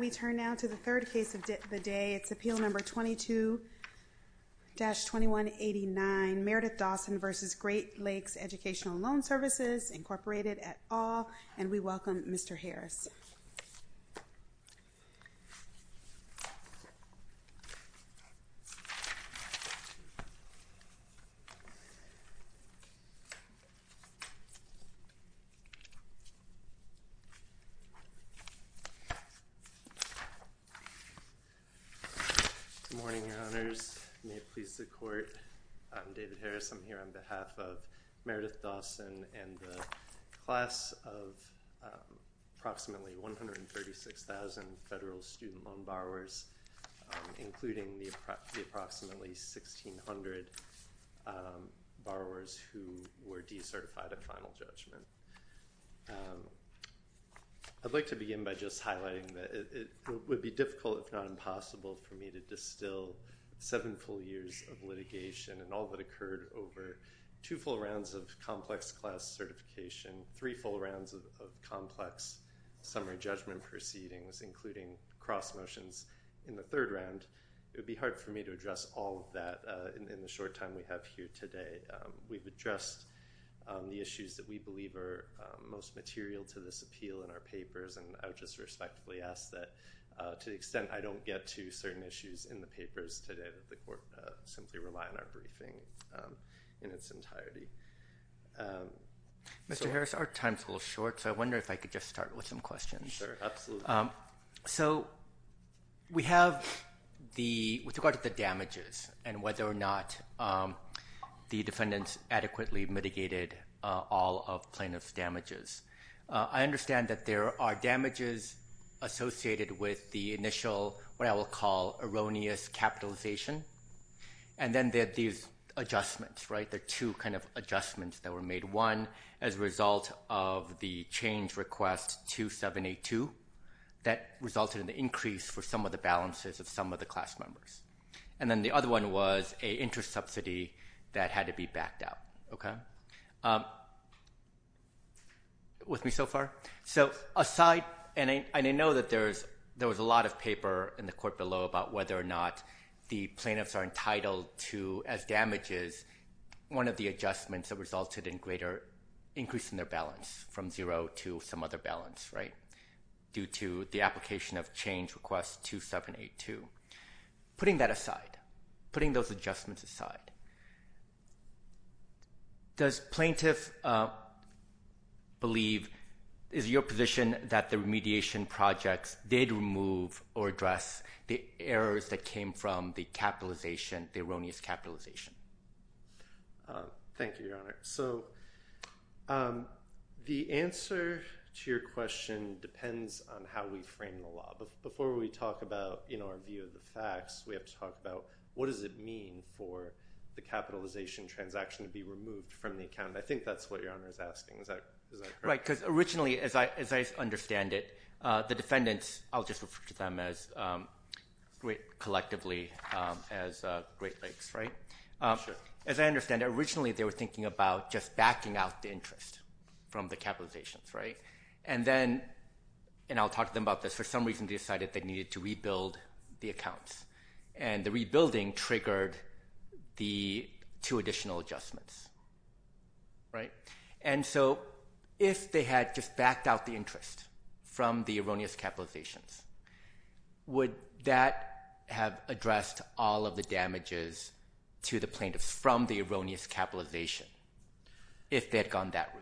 We turn now to the third case of the day. It's Appeal Number 22-2189, Meredith Dawson v. Great Lakes Educational Loan Services, Incorporated, et al., and we welcome Mr. Harris. Good morning, Your Honors. May it please the Court, I'm David Harris. I'm here on behalf of Meredith Dawson and the class of approximately 136,000 federal student loan borrowers, including the approximately 1,600 borrowers who were decertified at final judgment. I'd like to begin by just highlighting that it would be difficult, if not impossible, for me to distill seven full years of litigation and all that occurred over two full rounds of complex class certification, three full rounds of complex summary judgment proceedings, including cross motions in the third round. It would be hard for me to address all of that in the short time we have here today. We've addressed the issues that we believe are most material to this appeal in our papers, and I would just respectfully ask that, to the extent I don't get to certain issues in the papers today, that the Court simply rely on our briefing in its entirety. Mr. Harris, our time is a little short, so I wonder if I could just start with some questions. Sure, absolutely. So we have, with regard to the damages and whether or not the defendants adequately mitigated all of plaintiff's damages, I understand that there are damages associated with the initial, what I will call erroneous capitalization, and then there are these adjustments, right? There are two kind of adjustments that were made. One as a result of the change request 2782 that resulted in the increase for some of the balances of some of the class members, and then the other one was a interest subsidy that had to be backed out. Okay? With me so far? So aside, and I know that there was a lot of paper in the Court below about whether or not the plaintiffs are entitled to, as damages, one of the adjustments that resulted in greater increase in their balance from zero to some other balance, right, due to the application of change request 2782. Putting that aside, putting those adjustments aside, does plaintiff believe, is it your position that the remediation projects did remove or address the errors that came from the capitalization, the erroneous capitalization? Thank you, Your Honor. So the answer to your question depends on how we frame the law. But before we talk about, you know, our view of the facts, we have to talk about what does it mean for the capitalization transaction to be removed from the account? I think that's what Your Honor is asking. Is that correct? Right, because originally, as I understand it, the defendants, I'll just refer to them collectively as Great Lakes, right? As I understand it, originally they were thinking about just backing out the interest from the capitalizations, right? And then, and I'll talk to them about this, for some reason they decided they needed to rebuild the accounts. And the rebuilding triggered the two additional adjustments, right? And so if they had just backed out the interest from the erroneous capitalizations, would that have addressed all of the damages to the plaintiffs from the erroneous capitalization, if they had gone that route?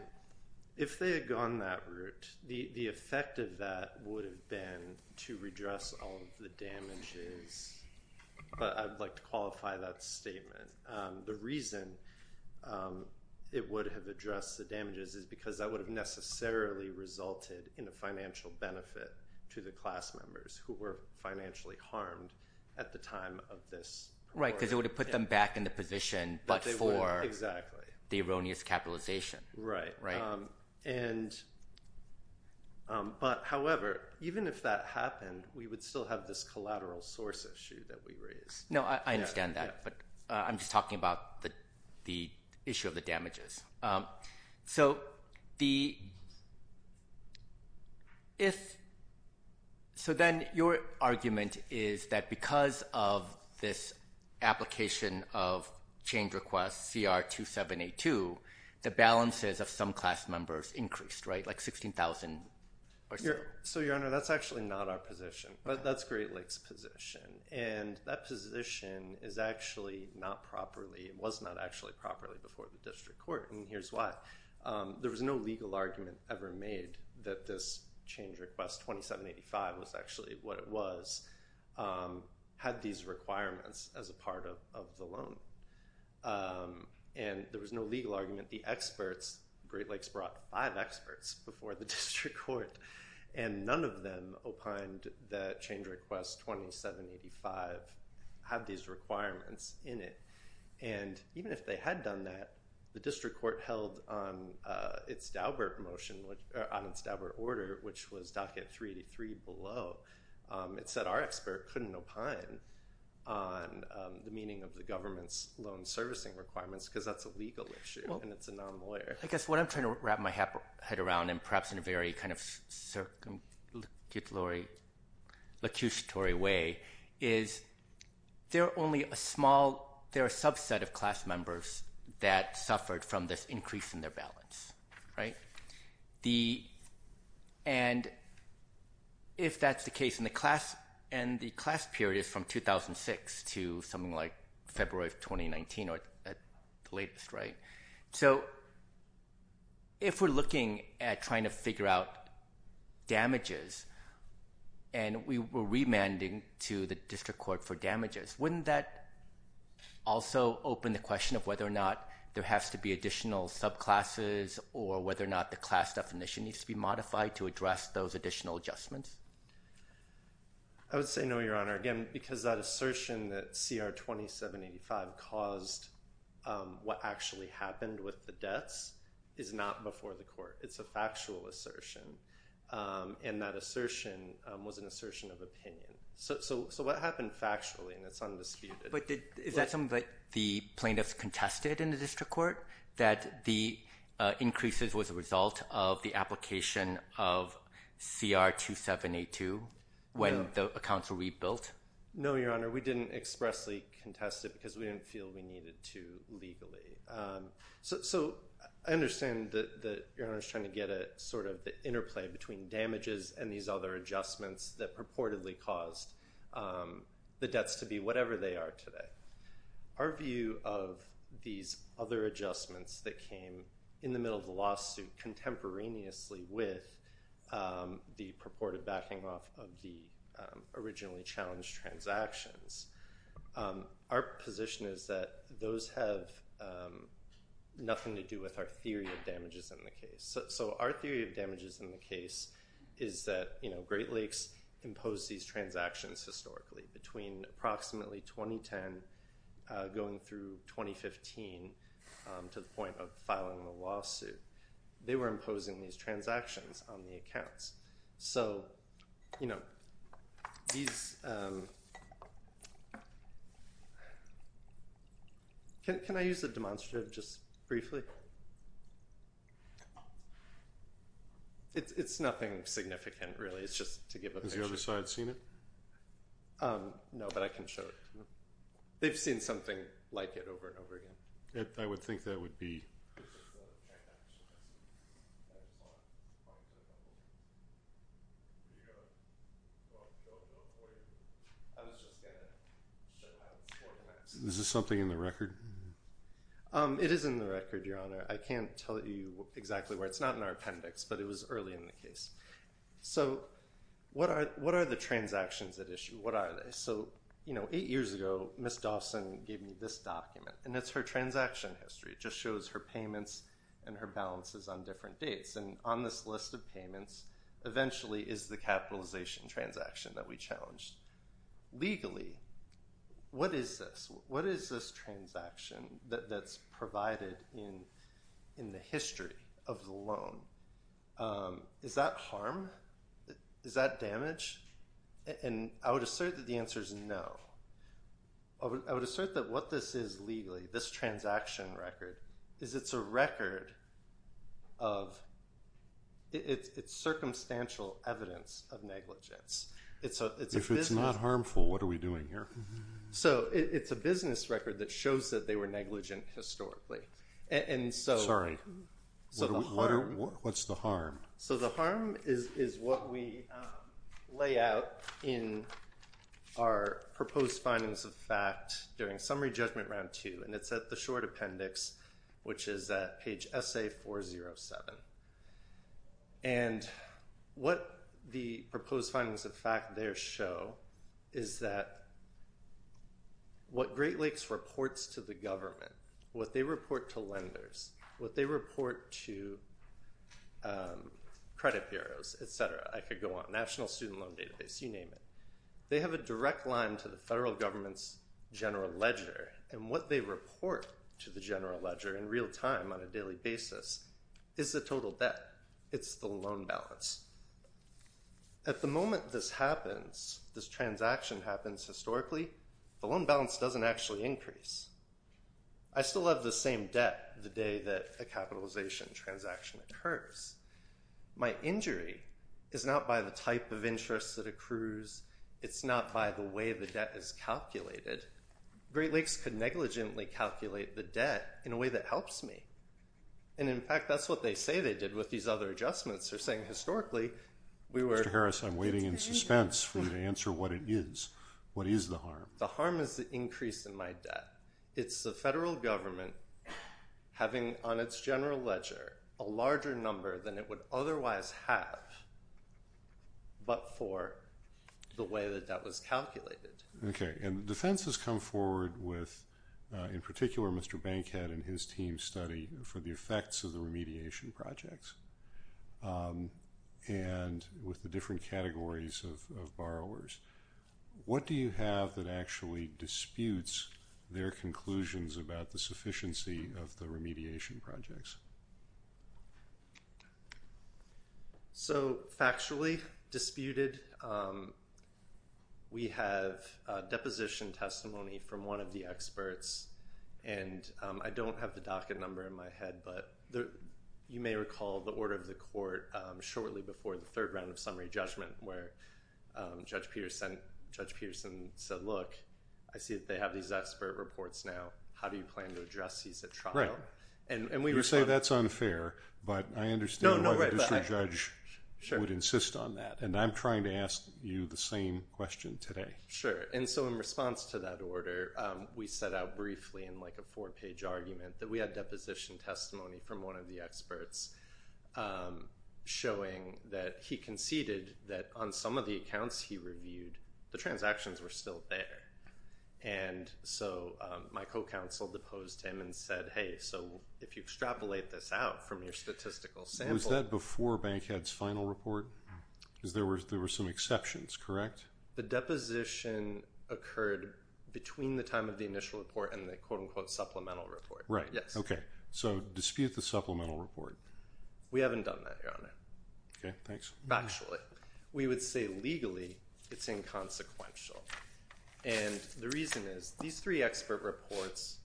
The effect of that would have been to redress all of the damages, but I'd like to qualify that statement. The reason it would have addressed the damages is because that would have necessarily resulted in a financial benefit to the class members who were financially harmed at the time of this court. Right, because it would have put them back in the position before the erroneous capitalization. Right, but however, even if that happened, we would still have this collateral source issue that we raised. No, I understand that, but I'm just talking about the issue of the damages. So then your argument is that because of this application of change request CR 2782, the balances of some class members increased, right, like 16,000 or so? So, Your Honor, that's actually not our position, but that's Great Lakes' position. And that position is actually not properly, was not actually properly before the district court, and here's why. There was no legal argument ever made that this change request 2785 was actually what it was, had these requirements as a part of the loan. And there was no legal argument. The experts, Great Lakes brought five experts before the district court, and none of them opined that change request 2785 had these requirements in it. And even if they had done that, the district court held on its Daubert motion, on its Daubert order, which was docket 383 below, it said our expert couldn't opine on the meaning of the government's loan servicing requirements because that's a legal issue and it's a non-lawyer. I guess what I'm trying to wrap my head around, and perhaps in a very kind of circumstantial way, is there are only a small, there are a subset of class members that suffered from this increase in their balance, right? And if that's the case in the class, and the class period is from 2006 to something like February of 2019 or at the latest, right? So if we're looking at trying to figure out damages, and we were remanding to the district court for damages, wouldn't that also open the question of whether or not there has to be additional subclasses or whether or not the class definition needs to be modified to address those additional adjustments? I would say no, Your Honor. Again, because that assertion that CR 2785 caused what actually happened with the deaths is not before the court. It's a factual assertion, and that assertion was an assertion of opinion. So what happened factually, and it's undisputed. But is that something that the plaintiffs contested in the district court, that the increases was a result of the application of CR 2782 when the accounts were rebuilt? No, Your Honor. We didn't expressly contest it because we didn't feel we needed to legally. So I understand that Your Honor is trying to get a sort of interplay between damages and these other adjustments that purportedly caused the deaths to be whatever they are today. Our view of these other adjustments that came in the middle of the lawsuit contemporaneously with the purported backing off of the originally challenged transactions, our position is that those have nothing to do with our theory of damages in the case. So our theory of damages in the case is that Great Lakes imposed these transactions historically. Between approximately 2010 going through 2015 to the point of filing the lawsuit, they were imposing these transactions on the accounts. Can I use a demonstrative just briefly? It's nothing significant really. It's just to give a picture. Has the other side seen it? No, but I can show it. They've seen something like it over and over again. I would think that would be. Is this something in the record? It is in the record, Your Honor. I can't tell you exactly where. It's not in our appendix, but it was early in the case. So what are the transactions at issue? What are they? So eight years ago, Ms. Dawson gave me this document, and it's her transaction history. It just shows her payments and her balances on different dates. And on this list of payments, eventually, is the capitalization transaction that we challenged. Legally, what is this? What is this transaction that's provided in the history of the loan? Is that harm? Is that damage? And I would assert that the answer is no. I would assert that what this is legally, this transaction record, is it's a record of it's circumstantial evidence of negligence. If it's not harmful, what are we doing here? So it's a business record that shows that they were negligent historically. Sorry. What's the harm? So the harm is what we lay out in our proposed findings of fact during summary judgment round two, and it's at the short appendix, which is at page SA407. And what the proposed findings of fact there show is that what Great Lakes reports to the credit bureaus, et cetera, I could go on, National Student Loan Database, you name it, they have a direct line to the federal government's general ledger. And what they report to the general ledger in real time on a daily basis is the total debt. It's the loan balance. At the moment this happens, this transaction happens historically, the loan balance doesn't actually increase. I still have the same debt the day that a capitalization transaction occurs. My injury is not by the type of interest that accrues. It's not by the way the debt is calculated. Great Lakes could negligently calculate the debt in a way that helps me. And in fact, that's what they say they did with these other adjustments. They're saying historically we were... Mr. Harris, I'm waiting in suspense for you to answer what it is. What is the harm? The harm is the increase in my debt. It's the federal government having on its general ledger a larger number than it would otherwise have but for the way that that was calculated. Okay. And the defense has come forward with, in particular, Mr. Bankhead and his team's study for the effects of the remediation projects and with the different categories of borrowers. What do you have that actually disputes their conclusions about the sufficiency of the remediation projects? So factually disputed, we have deposition testimony from one of the experts and I don't have the docket number in my head but you may recall the order of the court shortly before the third round of summary judgment where Judge Peterson said, look, I see that they have these expert reports now. How do you plan to address these at trial? You say that's unfair but I understand why the district judge would insist on that. And I'm trying to ask you the same question today. Sure. And so in response to that order, we set out briefly in like a four-page argument that we had deposition testimony from one of the experts showing that he conceded that on some of the accounts he reviewed, the transactions were still there. And so my co-counsel deposed him and said, hey, so if you extrapolate this out from your statistical sample. Was that before Bankhead's final report? Because there were some exceptions, correct? The deposition occurred between the time of the initial report and the quote unquote supplemental report. Right. Yes. Okay. So dispute the supplemental report. We haven't done that, Your Honor. Okay. Thanks. Actually, we would say legally it's inconsequential. And the reason is these three expert reports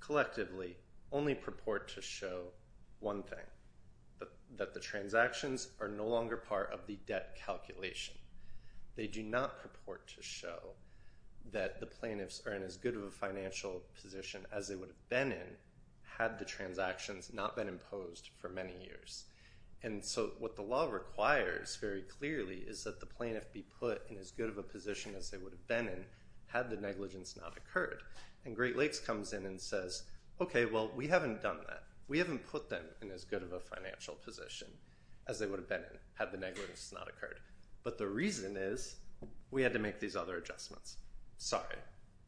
collectively only purport to show one thing, that the transactions are no longer part of the debt calculation. They do not purport to show that the plaintiffs are in as good of a financial position as they would have been in had the transactions not been imposed for many years. And so what the law requires very clearly is that the plaintiff be put in as good of a position as they would have been in had the negligence not occurred. And Great Lakes comes in and says, okay, well, we haven't done that. We haven't put them in as good of a financial position as they would have been in had the negligence not occurred. But the reason is we had to make these other adjustments. Sorry.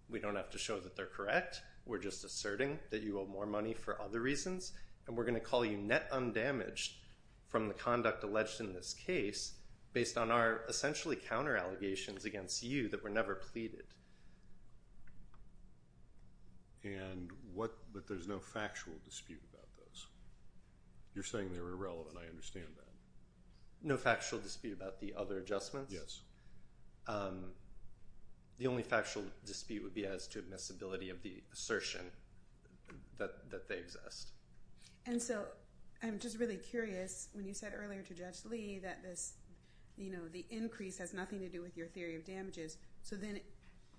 We don't have to show that they're correct. Instead, we're just asserting that you owe more money for other reasons. And we're going to call you net undamaged from the conduct alleged in this case based on our essentially counter allegations against you that were never pleaded. But there's no factual dispute about this? You're saying they're irrelevant. I understand that. No factual dispute about the other adjustments? Yes. The only factual dispute would be as to admissibility of the assertion that they exist. And so I'm just really curious when you said earlier to Judge Lee that this, you know, the increase has nothing to do with your theory of damages. So then,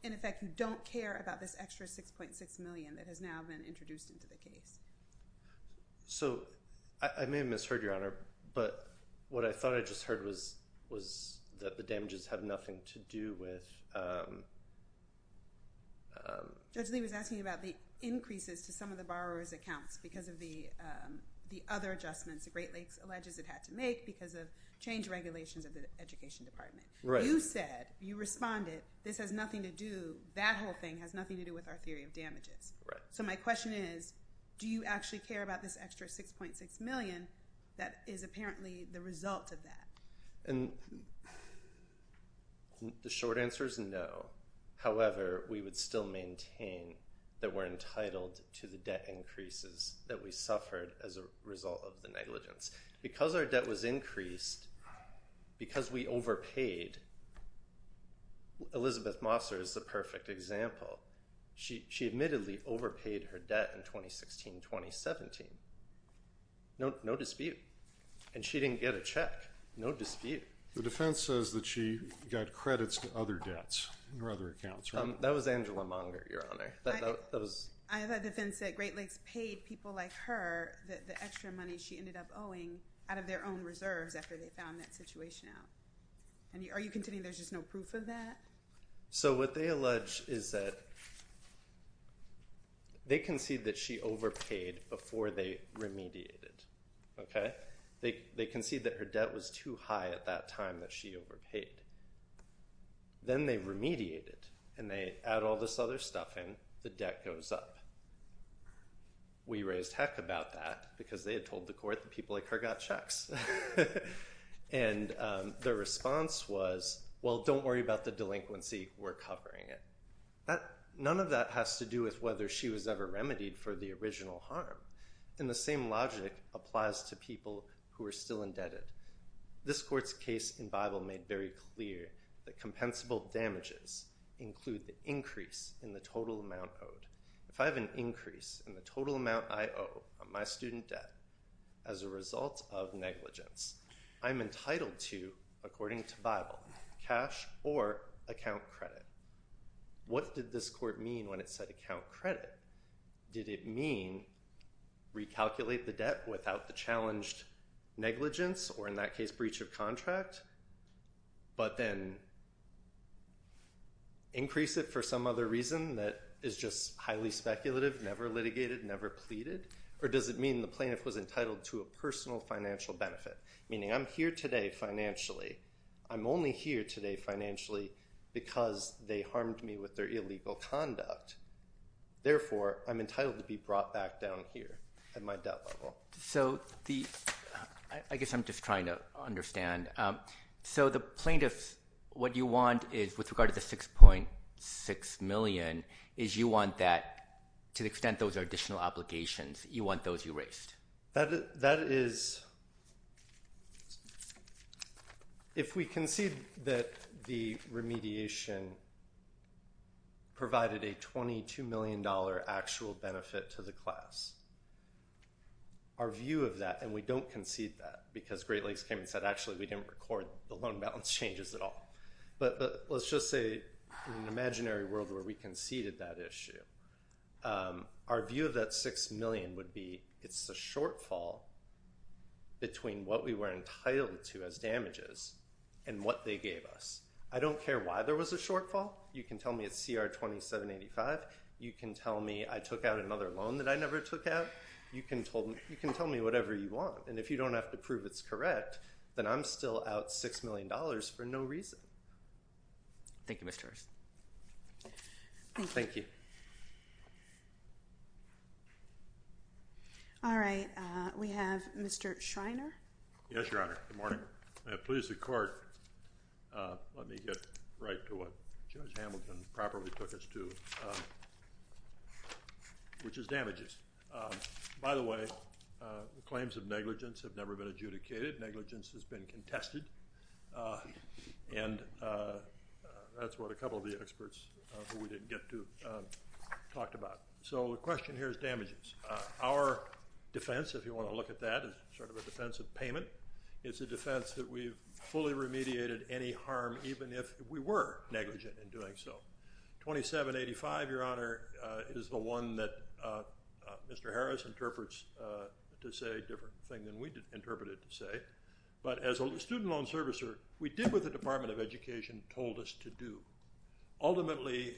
in effect, you don't care about this extra 6.6 million that has now been introduced into the case. So I may have misheard, Your Honor. But what I thought I just heard was that the damages have nothing to do with... Judge Lee was asking about the increases to some of the borrower's accounts because of the other adjustments the Great Lakes alleges it had to make because of change regulations of the Education Department. You said, you responded, this has nothing to do, that whole thing has nothing to do with our theory of damages. Right. So my question is, do you actually care about this extra 6.6 million that is apparently the result of that? The short answer is no. However, we would still maintain that we're entitled to the debt increases that we suffered as a result of the negligence. Because our debt was increased, because we overpaid, Elizabeth Mosser is the perfect example. She admittedly overpaid her debt in 2016-2017. No dispute. And she didn't get a check. No dispute. The defense says that she got credits to other debts, or other accounts, right? That was Angela Monger, Your Honor. I have a defense that Great Lakes paid people like her the extra money she ended up owing out of their own reserves after they found that situation out. Are you contending there's just no proof of that? So what they allege is that they concede that she overpaid before they remediated, okay? They concede that her debt was too high at that time that she overpaid. Then they remediated, and they add all this other stuff in, the debt goes up. We raised heck about that, because they had told the court that people like her got checks. And the response was, well, don't worry about the delinquency. We're covering it. None of that has to do with whether she was ever remedied for the original harm. And the same logic applies to people who are still indebted. This court's case in Bible made very clear that compensable damages include the increase in the total amount owed. If I have an increase in the total amount I owe on my student debt as a result of negligence, I'm entitled to, according to Bible, cash or account credit. What did this court mean when it said account credit? Did it mean recalculate the debt without the challenged negligence, or in that case, breach of contract, but then increase it for some other reason that is just highly speculative, never litigated, never pleaded? Or does it mean the plaintiff was entitled to a personal financial benefit, meaning I'm here today financially. I'm only here today financially because they harmed me with their illegal conduct. Therefore, I'm entitled to be brought back down here at my debt level. So I guess I'm just trying to understand. So the plaintiff, what you want is, with regard to the $6.6 million, is you want that to the extent those are additional obligations, you want those erased. That is, if we concede that the remediation provided a $22 million actual benefit to the class, our view of that, and we don't concede that because Great Lakes came and said, actually, we didn't record the loan balance changes at all. But let's just say, in an imaginary world where we conceded that issue, our view of that $6 million would be it's a shortfall between what we were entitled to as damages and what they gave us. I don't care why there was a shortfall. You can tell me it's CR 2785. You can tell me I took out another loan that I never took out. You can tell me whatever you want. And if you don't have to prove it's correct, then I'm still out $6 million for no reason. Thank you, Mr. Harris. Thank you. All right. We have Mr. Schreiner. Yes, Your Honor. Good morning. I have pleased the court. Let me get right to what Judge Hamilton properly took us to, which is damages. By the way, the claims of negligence have never been adjudicated. Negligence has been contested. And that's what a couple of the experts who we didn't get to talked about. So the question here is damages. Our defense, if you want to look at that, is sort of a defense of payment. It's a defense that we've fully remediated any harm, even if we were negligent in doing so. 2785, Your Honor, is the one that Mr. Harris interprets to say a different thing than we interpret it to say. But as a student loan servicer, we did what the Department of Education told us to do. Ultimately,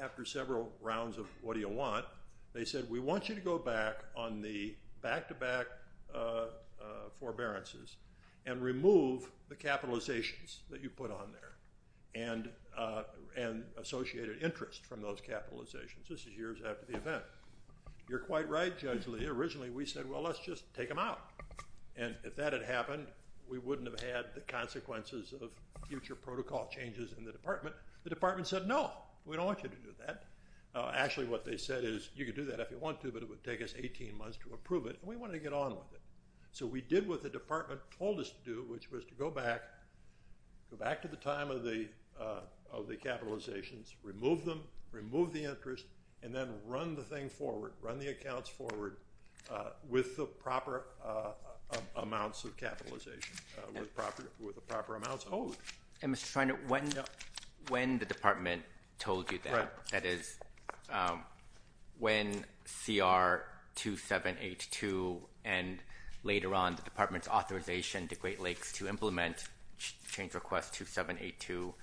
after several rounds of what do you want, they said we want you to go back on the back-to-back forbearances and remove the capitalizations that you put on there and associated interest from those capitalizations. This is years after the event. You're quite right, Judge Lee. Originally, we said, well, let's just take them out. And if that had happened, we wouldn't have had the consequences of future protocol changes in the department. The department said, no, we don't want you to do that. Actually, what they said is you can do that if you want to, but it would take us 18 months to approve it. And we wanted to get on with it. So we did what the department told us to do, which was to go back, go back to the time of the capitalizations, remove them, remove the interest, and then run the thing forward, with the proper amounts of capitalization, with the proper amounts owed. And Mr. Treynor, when the department told you that, that is, when CR 2782 and later on the department's authorization to Great Lakes to implement change request 2782,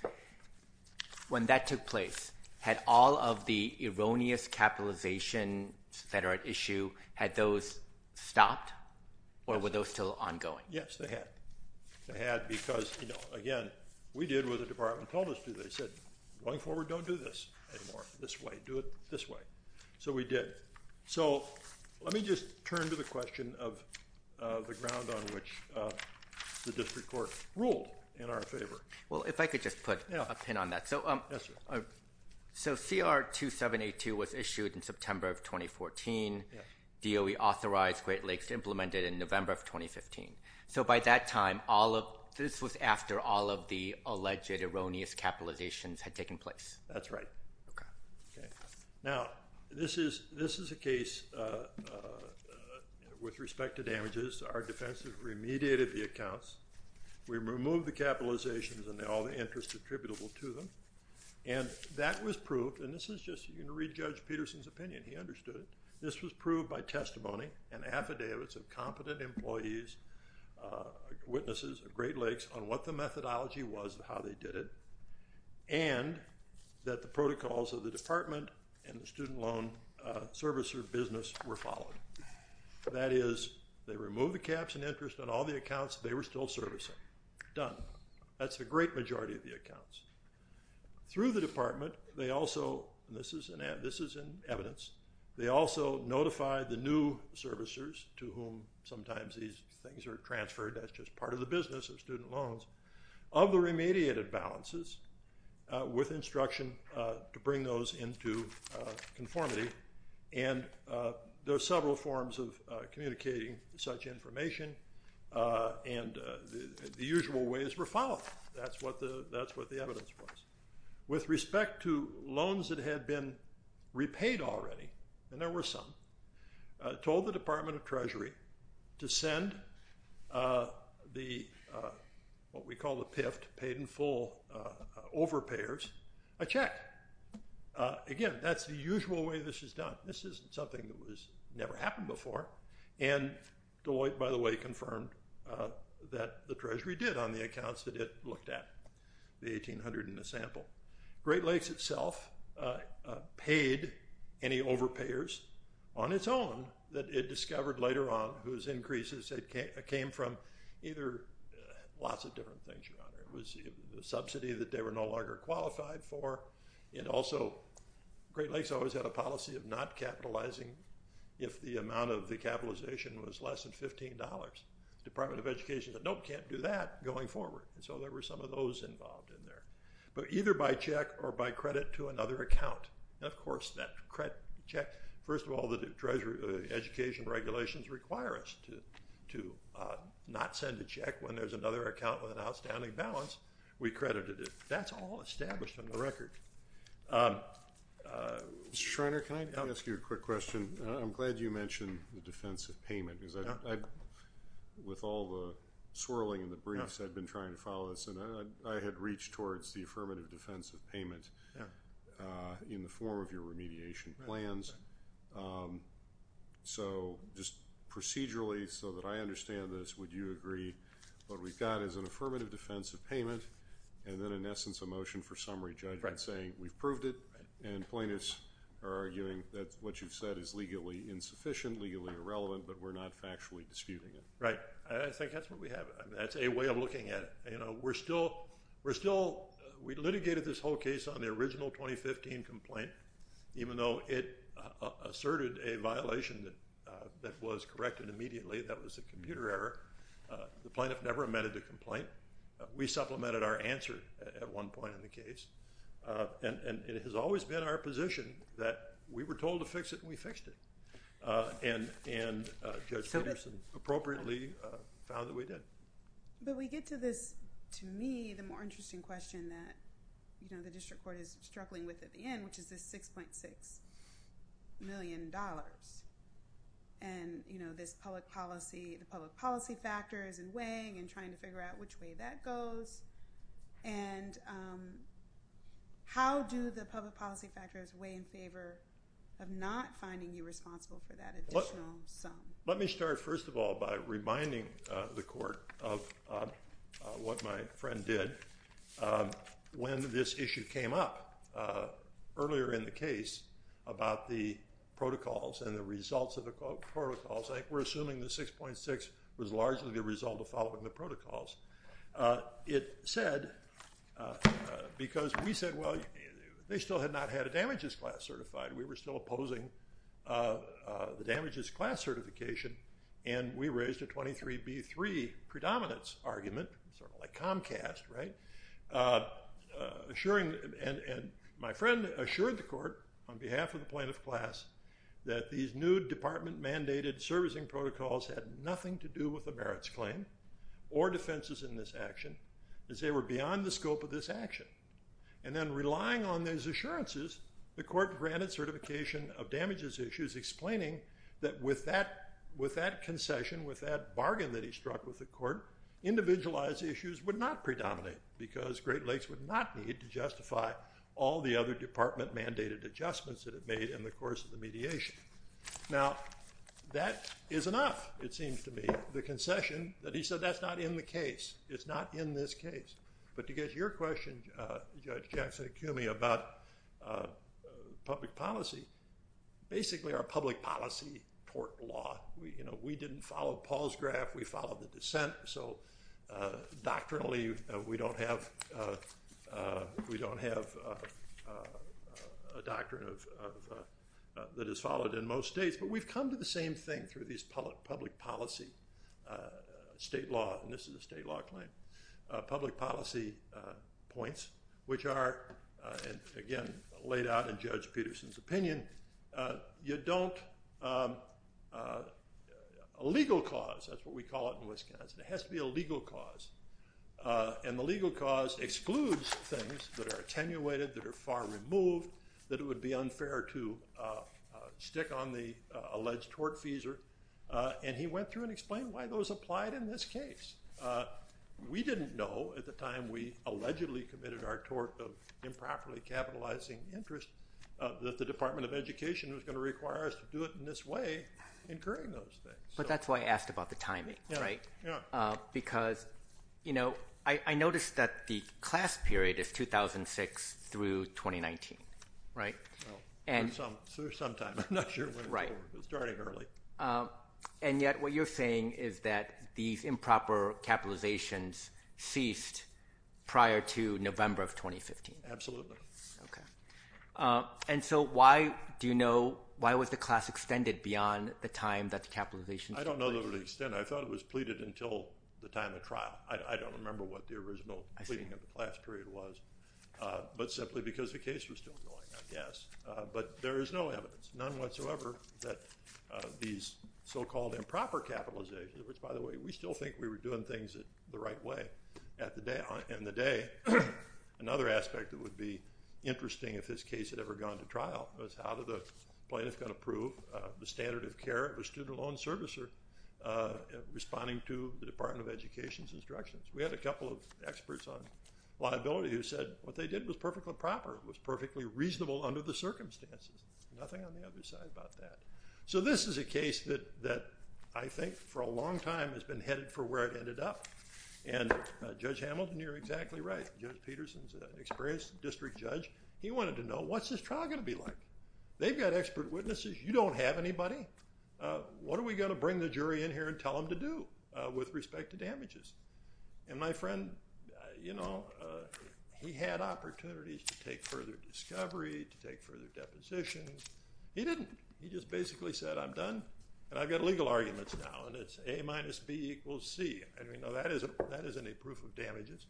when that took place, had all of the erroneous capitalization that are at issue, had those stopped, or were those still ongoing? Yes, they had. They had because, again, we did what the department told us to do. They said, going forward, don't do this anymore. This way. Do it this way. So we did. So let me just turn to the question of the ground on which the district court ruled in our favor. Well, if I could just put a pin on that. Yes, sir. So CR 2782 was issued in September of 2014. Yes. DOE authorized Great Lakes to implement it in November of 2015. So by that time, this was after all of the alleged erroneous capitalizations had taken place. That's right. OK. OK. Now, this is a case with respect to damages. Our defense has remediated the accounts. We removed the capitalizations and all the interest attributable to them. And that was proved, and this is just, you can read Judge Peterson's opinion. He understood it. This was proved by testimony and affidavits of competent employees, witnesses of Great Lakes on what the methodology was and how they did it, and that the protocols of the department and the student loan service or business were followed. That is, they removed the caps and interest on all the accounts they were still servicing. Done. That's the great majority of the accounts. Through the department, they also, and this is in evidence, they also notified the new servicers, to whom sometimes these things are transferred, that's just part of the business of student loans, of the remediated balances with instruction to bring those into conformity. And there are several forms of communicating such information, and the usual ways were followed. That's what the evidence was. With respect to loans that had been repaid already, and there were some, told the Department of Treasury to send the, what we call the PIFT, paid in full overpayers, a check. Again, that's the usual way this is done. This isn't something that has never happened before. And Deloitte, by the way, confirmed that the Treasury did on the accounts that it looked at, the 1,800 in the sample. Great Lakes itself paid any overpayers on its own that it discovered later on whose increases came from either lots of different things. The subsidy that they were no longer qualified for, and also Great Lakes always had a policy of not capitalizing if the amount of the capitalization was less than $15. Department of Education said, nope, can't do that going forward. And so there were some of those involved in there. But either by check or by credit to another account. And, of course, that credit check, first of all, the Treasury education regulations require us to not send a check when there's another account with an outstanding balance. We credited it. That's all established on the record. Mr. Schreiner, can I ask you a quick question? I'm glad you mentioned the defense of payment because with all the swirling and the briefs I've been trying to follow this, and I had reached towards the affirmative defense of payment in the form of your remediation plans. So just procedurally, so that I understand this, would you agree what we've got is an affirmative defense of payment and then, in essence, a motion for summary judgment saying we've proved it and plaintiffs are arguing that what you've said is legally insufficient, legally irrelevant, but we're not factually disputing it? Right. I think that's what we have. That's a way of looking at it. You know, we're still – we litigated this whole case on the original 2015 complaint even though it asserted a violation that was corrected immediately. That was a computer error. The plaintiff never amended the complaint. We supplemented our answer at one point in the case. And it has always been our position that we were told to fix it and we fixed it. And Judge Peterson appropriately found that we did. But we get to this, to me, the more interesting question that, you know, the district court is struggling with at the end, which is this $6.6 million. And, you know, this public policy – the public policy factors and weighing and trying to figure out which way that goes. And how do the public policy factors weigh in favor of not finding you responsible for that additional sum? Let me start, first of all, by reminding the court of what my friend did when this issue came up earlier in the case about the protocols and the results of the protocols. I think we're assuming the 6.6 was largely the result of following the protocols. It said – because we said, well, they still had not had a damages class certified. We were still opposing the damages class certification. And we raised a 23B3 predominance argument, sort of like Comcast, right? Assuring – and my friend assured the court on behalf of the plaintiff class that these new department-mandated servicing protocols had nothing to do with the merits claim or defenses in this action, as they were beyond the scope of this action. And then relying on those assurances, the court granted certification of damages issues, explaining that with that concession, with that bargain that he struck with the court, individualized issues would not predominate because Great Lakes would not need to justify all the other department-mandated adjustments that it made in the course of the mediation. Now, that is enough, it seems to me, the concession that he said that's not in the case. It's not in this case. But to get to your question, Judge Jackson-Akumi, about public policy, basically our public policy tort law. We didn't follow Paul's graph. We followed the dissent. So doctrinally, we don't have a doctrine that is followed in most states. But we've come to the same thing through these public policy state law and this is a state law claim. Public policy points, which are, again, laid out in Judge Peterson's opinion, you don't, a legal cause, that's what we call it in Wisconsin, it has to be a legal cause. And the legal cause excludes things that are attenuated, that are far removed, that it would be unfair to stick on the alleged tort fees, and he went through and explained why those applied in this case. We didn't know at the time we allegedly committed our tort of improperly capitalizing interest that the Department of Education was going to require us to do it in this way incurring those things. But that's why I asked about the timing, right? Yeah. Because, you know, I noticed that the class period is 2006 through 2019, right? So there's some timing. I'm not sure when it was starting early. And yet what you're saying is that these improper capitalizations ceased prior to November of 2015. Absolutely. Okay. And so why do you know, why was the class extended beyond the time that the capitalization started? I don't know the extent. I thought it was pleaded until the time of trial. I don't remember what the original pleading of the class period was, but simply because the case was still going, I guess. But there is no evidence, none whatsoever, that these so-called improper capitalizations, which, by the way, we still think we were doing things the right way at the day. And the day, another aspect that would be interesting if this case had ever gone to trial was how did the plaintiff going to prove the standard of care of a student loan servicer responding to the Department of Education's instructions. We had a couple of experts on liability who said what they did was perfectly proper. It was perfectly reasonable under the circumstances. Nothing on the other side about that. So this is a case that I think for a long time has been headed for where it ended up. And Judge Hamilton, you're exactly right. Judge Peterson's an experienced district judge. He wanted to know what's this trial going to be like? They've got expert witnesses. You don't have anybody. What are we going to bring the jury in here and tell them to do with respect to damages? And my friend, you know, he had opportunities to take further discovery, to take further depositions. He didn't. He just basically said, I'm done. And I've got legal arguments now. And it's a minus B equals C. And we know that isn't a proof of damages.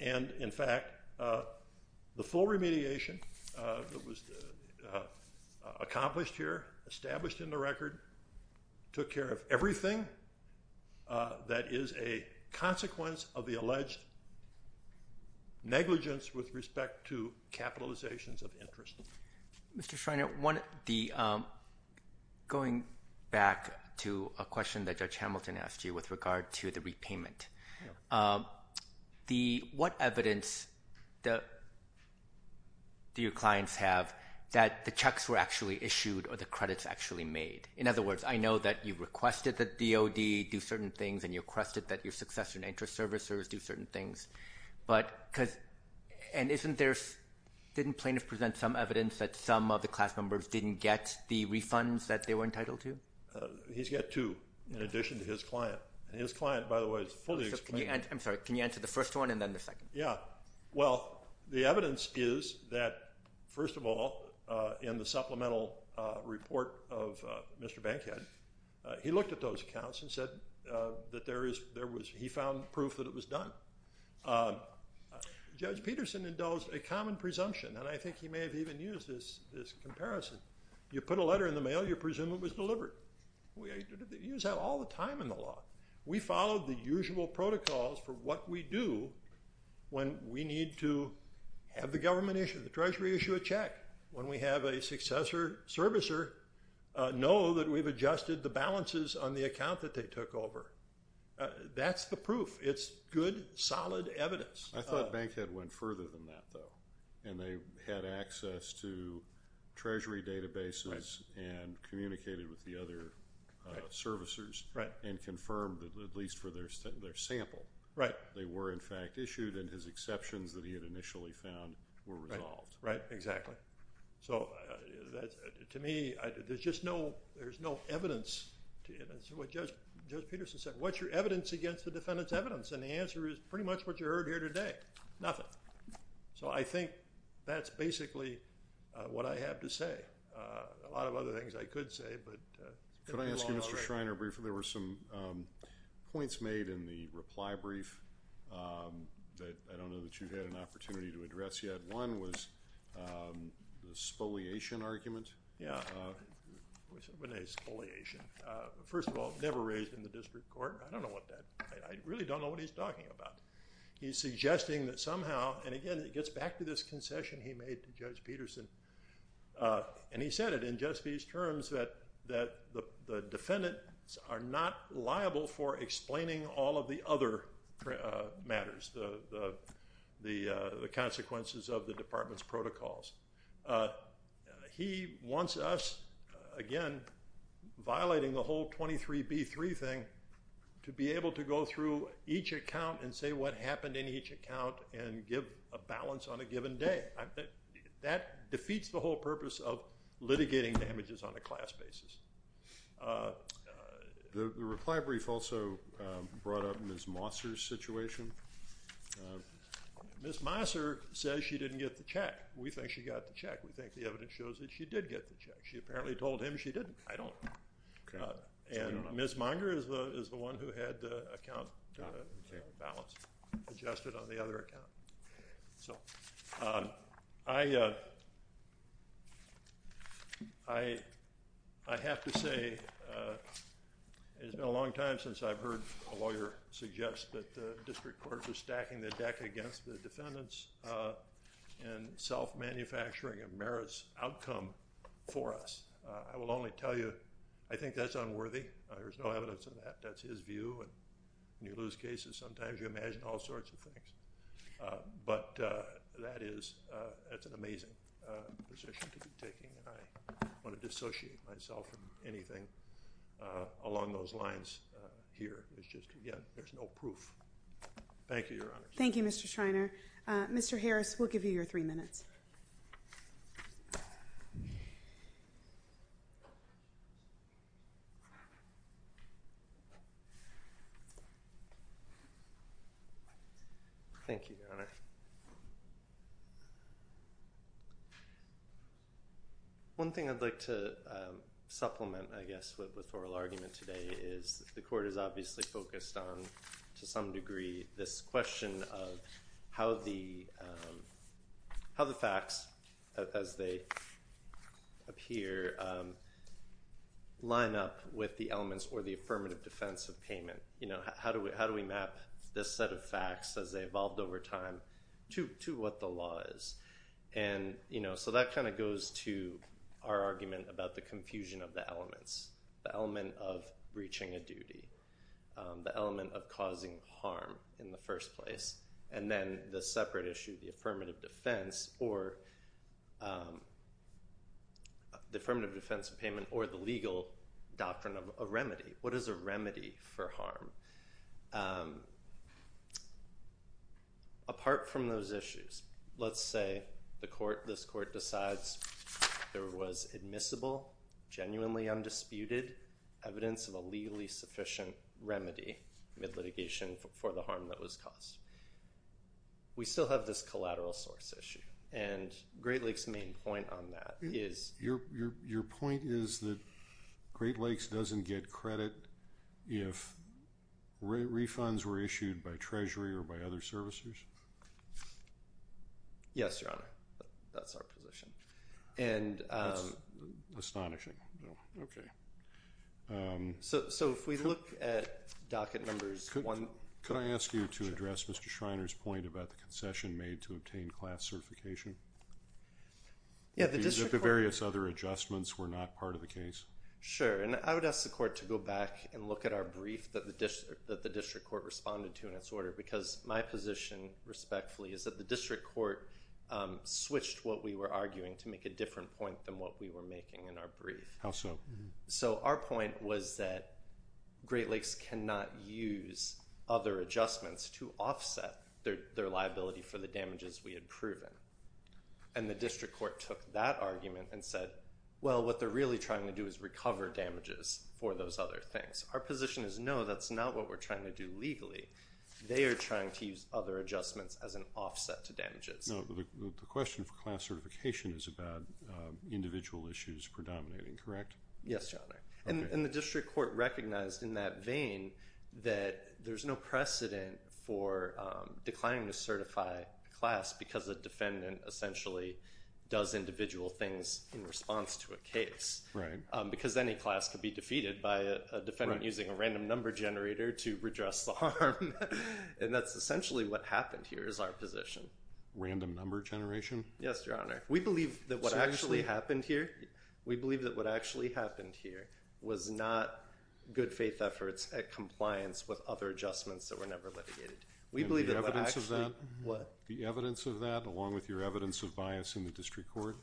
And in fact, the full remediation that was accomplished here, established in the record, took care of everything that is a consequence of the alleged negligence with respect to capitalizations of interest. Mr. Schreiner, going back to a question that Judge Hamilton asked you with regard to the repayment, what evidence do your clients have that the checks were actually issued or the credits actually made? In other words, I know that you requested that DOD do certain things and you requested that your successor and interest servicers do certain things. And didn't plaintiff present some evidence that some of the class members didn't get the refunds that they were entitled to? He's got two in addition to his client. And his client, by the way, is fully explained. I'm sorry. Can you answer the first one and then the second? Yeah. Well, the evidence is that, first of all, in the supplemental report of Mr. Bankhead, he looked at those accounts and said that he found proof that it was done. Judge Peterson indulged a common presumption, and I think he may have even used this comparison. You put a letter in the mail, you presume it was delivered. We use that all the time in the law. We follow the usual protocols for what we do when we need to have the government issue, the treasury issue a check, when we have a successor servicer know that we've adjusted the balances on the account that they took over. That's the proof. It's good, solid evidence. I thought Bankhead went further than that, though. And they had access to treasury databases and communicated with the other servicers and confirmed, at least for their sample, they were, in fact, issued, and his exceptions that he had initially found were resolved. Right. Exactly. So to me, there's just no evidence. That's what Judge Peterson said. What's your evidence against the defendant's evidence? And the answer is pretty much what you heard here today. Nothing. So I think that's basically what I have to say. A lot of other things I could say. Could I ask you, Mr. Schreiner, briefly, there were some points made in the reply brief that I don't know that you had an opportunity to address yet. One was the spoliation argument. Yeah. What is spoliation? First of all, never raised in the district court. I don't know what that is. I really don't know what he's talking about. He's suggesting that somehow, and again, it gets back to this concession he made to Judge Peterson, and he said it in just these terms that the defendants are not liable for explaining all of the other matters, the consequences of the department's protocols. He wants us, again, violating the whole 23B3 thing, to be able to go through each account and say what happened in each account and give a balance on a given day. That defeats the whole purpose of litigating damages on a class basis. The reply brief also brought up Ms. Mosser's situation. We think she got the check. We think the evidence shows that she did get the check. She apparently told him she didn't. I don't know. Ms. Minder is the one who had the account balance adjusted on the other account. I have to say it's been a long time since I've heard a lawyer suggest that the district courts are stacking the deck against the I think that's unworthy. There's no evidence of that. That's his view, and when you lose cases, sometimes you imagine all sorts of things. But that's an amazing position to be taking. I want to dissociate myself from anything along those lines here. Again, there is no proof. Thank you, Your Honor. Thank you, Mr. Shriner. Mr. Harris, we'll give you your three minutes. Thank you, Your Honor. One thing I'd like to supplement, I guess, with oral argument today is the court is obviously focused on, to some degree, this question of how the facts, as they appear, line up with the elements or the affirmative defense of payment. How do we map this set of facts as they evolved over time to what the law is? And so that kind of goes to our argument about the confusion of the elements, the element of breaching a duty, the element of causing harm in the first place, and then the separate issue, the affirmative defense or the affirmative defense of payment or the legal doctrine of a remedy. What is a remedy for harm? Apart from those issues, let's say this court decides there was admissible, genuinely undisputed evidence of a legally sufficient remedy, mid-litigation, for the harm that was caused. We still have this collateral source issue, and Great Lakes' main point on that is... Your point is that Great Lakes doesn't get credit if refunds were issued by Treasury or by other servicers? Yes, Your Honor. That's our position. That's astonishing. Okay. So if we look at docket numbers... Could I ask you to address Mr. Schreiner's point about the concession made to obtain class certification? Yeah, the district court... The various other adjustments were not part of the case? Sure, and I would ask the court to go back and look at our brief that the district court responded to in its order because my position, respectfully, is that the district court switched what we were arguing to make a different point than what we were making in our brief. How so? So our point was that Great Lakes cannot use other adjustments to offset their liability for the damages we had proven. And the district court took that argument and said, well, what they're really trying to do is recover damages for those other things. Our position is, no, that's not what we're trying to do legally. They are trying to use other adjustments as an offset to damages. No, the question for class certification is about individual issues predominating, correct? Yes, Your Honor. And the district court recognized in that vein that there's no precedent for declining to certify a class because a defendant essentially does individual things in response to a case. Right. Because any class could be defeated by a defendant using a random number generator to redress the harm. And that's essentially what happened here is our position. Random number generation? Yes, Your Honor. We believe that what actually happened here was not good faith efforts at compliance with other adjustments that were never litigated. And the evidence of that? The evidence of that, along with your evidence of bias in the district court?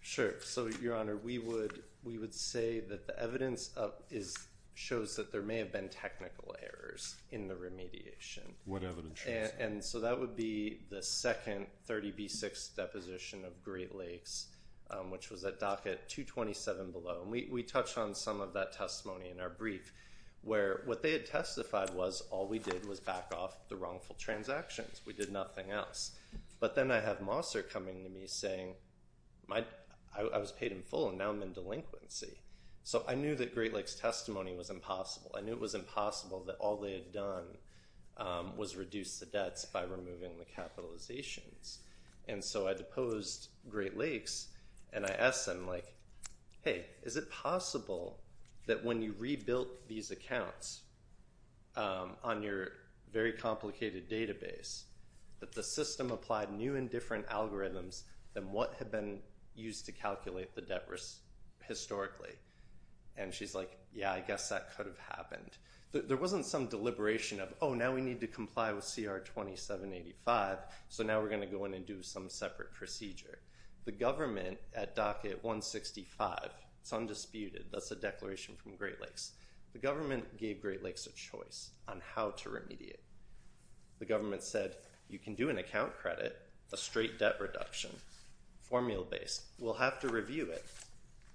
Sure. So, Your Honor, we would say that the evidence shows that there may have been technical errors in the remediation. What evidence? And so that would be the second 30B6 deposition of Great Lakes, which was at docket 227 below. And we touched on some of that testimony in our brief where what they had testified was all we did was back off the wrongful transactions. We did nothing else. But then I have Mosser coming to me saying, I was paid in full, and now I'm in delinquency. So I knew that Great Lakes' testimony was impossible. I knew it was impossible that all they had done was reduce the debts by removing the capitalizations. And so I deposed Great Lakes. And I asked them, hey, is it possible that when you rebuilt these accounts on your very own, the system applied new and different algorithms than what had been used to calculate the debt historically? And she's like, yeah, I guess that could have happened. There wasn't some deliberation of, oh, now we need to comply with CR 2785, so now we're going to go in and do some separate procedure. The government at docket 165, it's undisputed. That's a declaration from Great Lakes. The government gave Great Lakes a choice on how to remediate. The government said, you can do an account credit, a straight debt reduction, formula-based. We'll have to review it.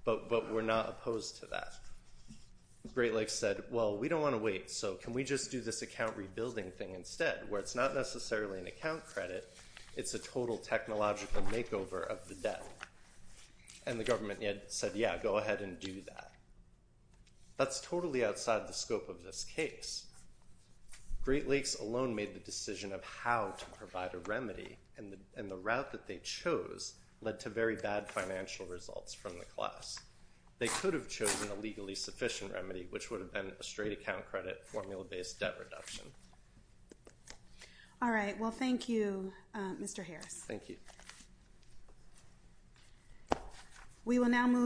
But we're not opposed to that. Great Lakes said, well, we don't want to wait. So can we just do this account rebuilding thing instead, where it's not necessarily an account credit. It's a total technological makeover of the debt. And the government said, yeah, go ahead and do that. That's totally outside the scope of this case. Great Lakes alone made the decision of how to provide a remedy. And the route that they chose led to very bad financial results from the class. They could have chosen a legally sufficient remedy, which would have been a straight account credit, formula-based debt reduction. All right. Thank you. We will now move on.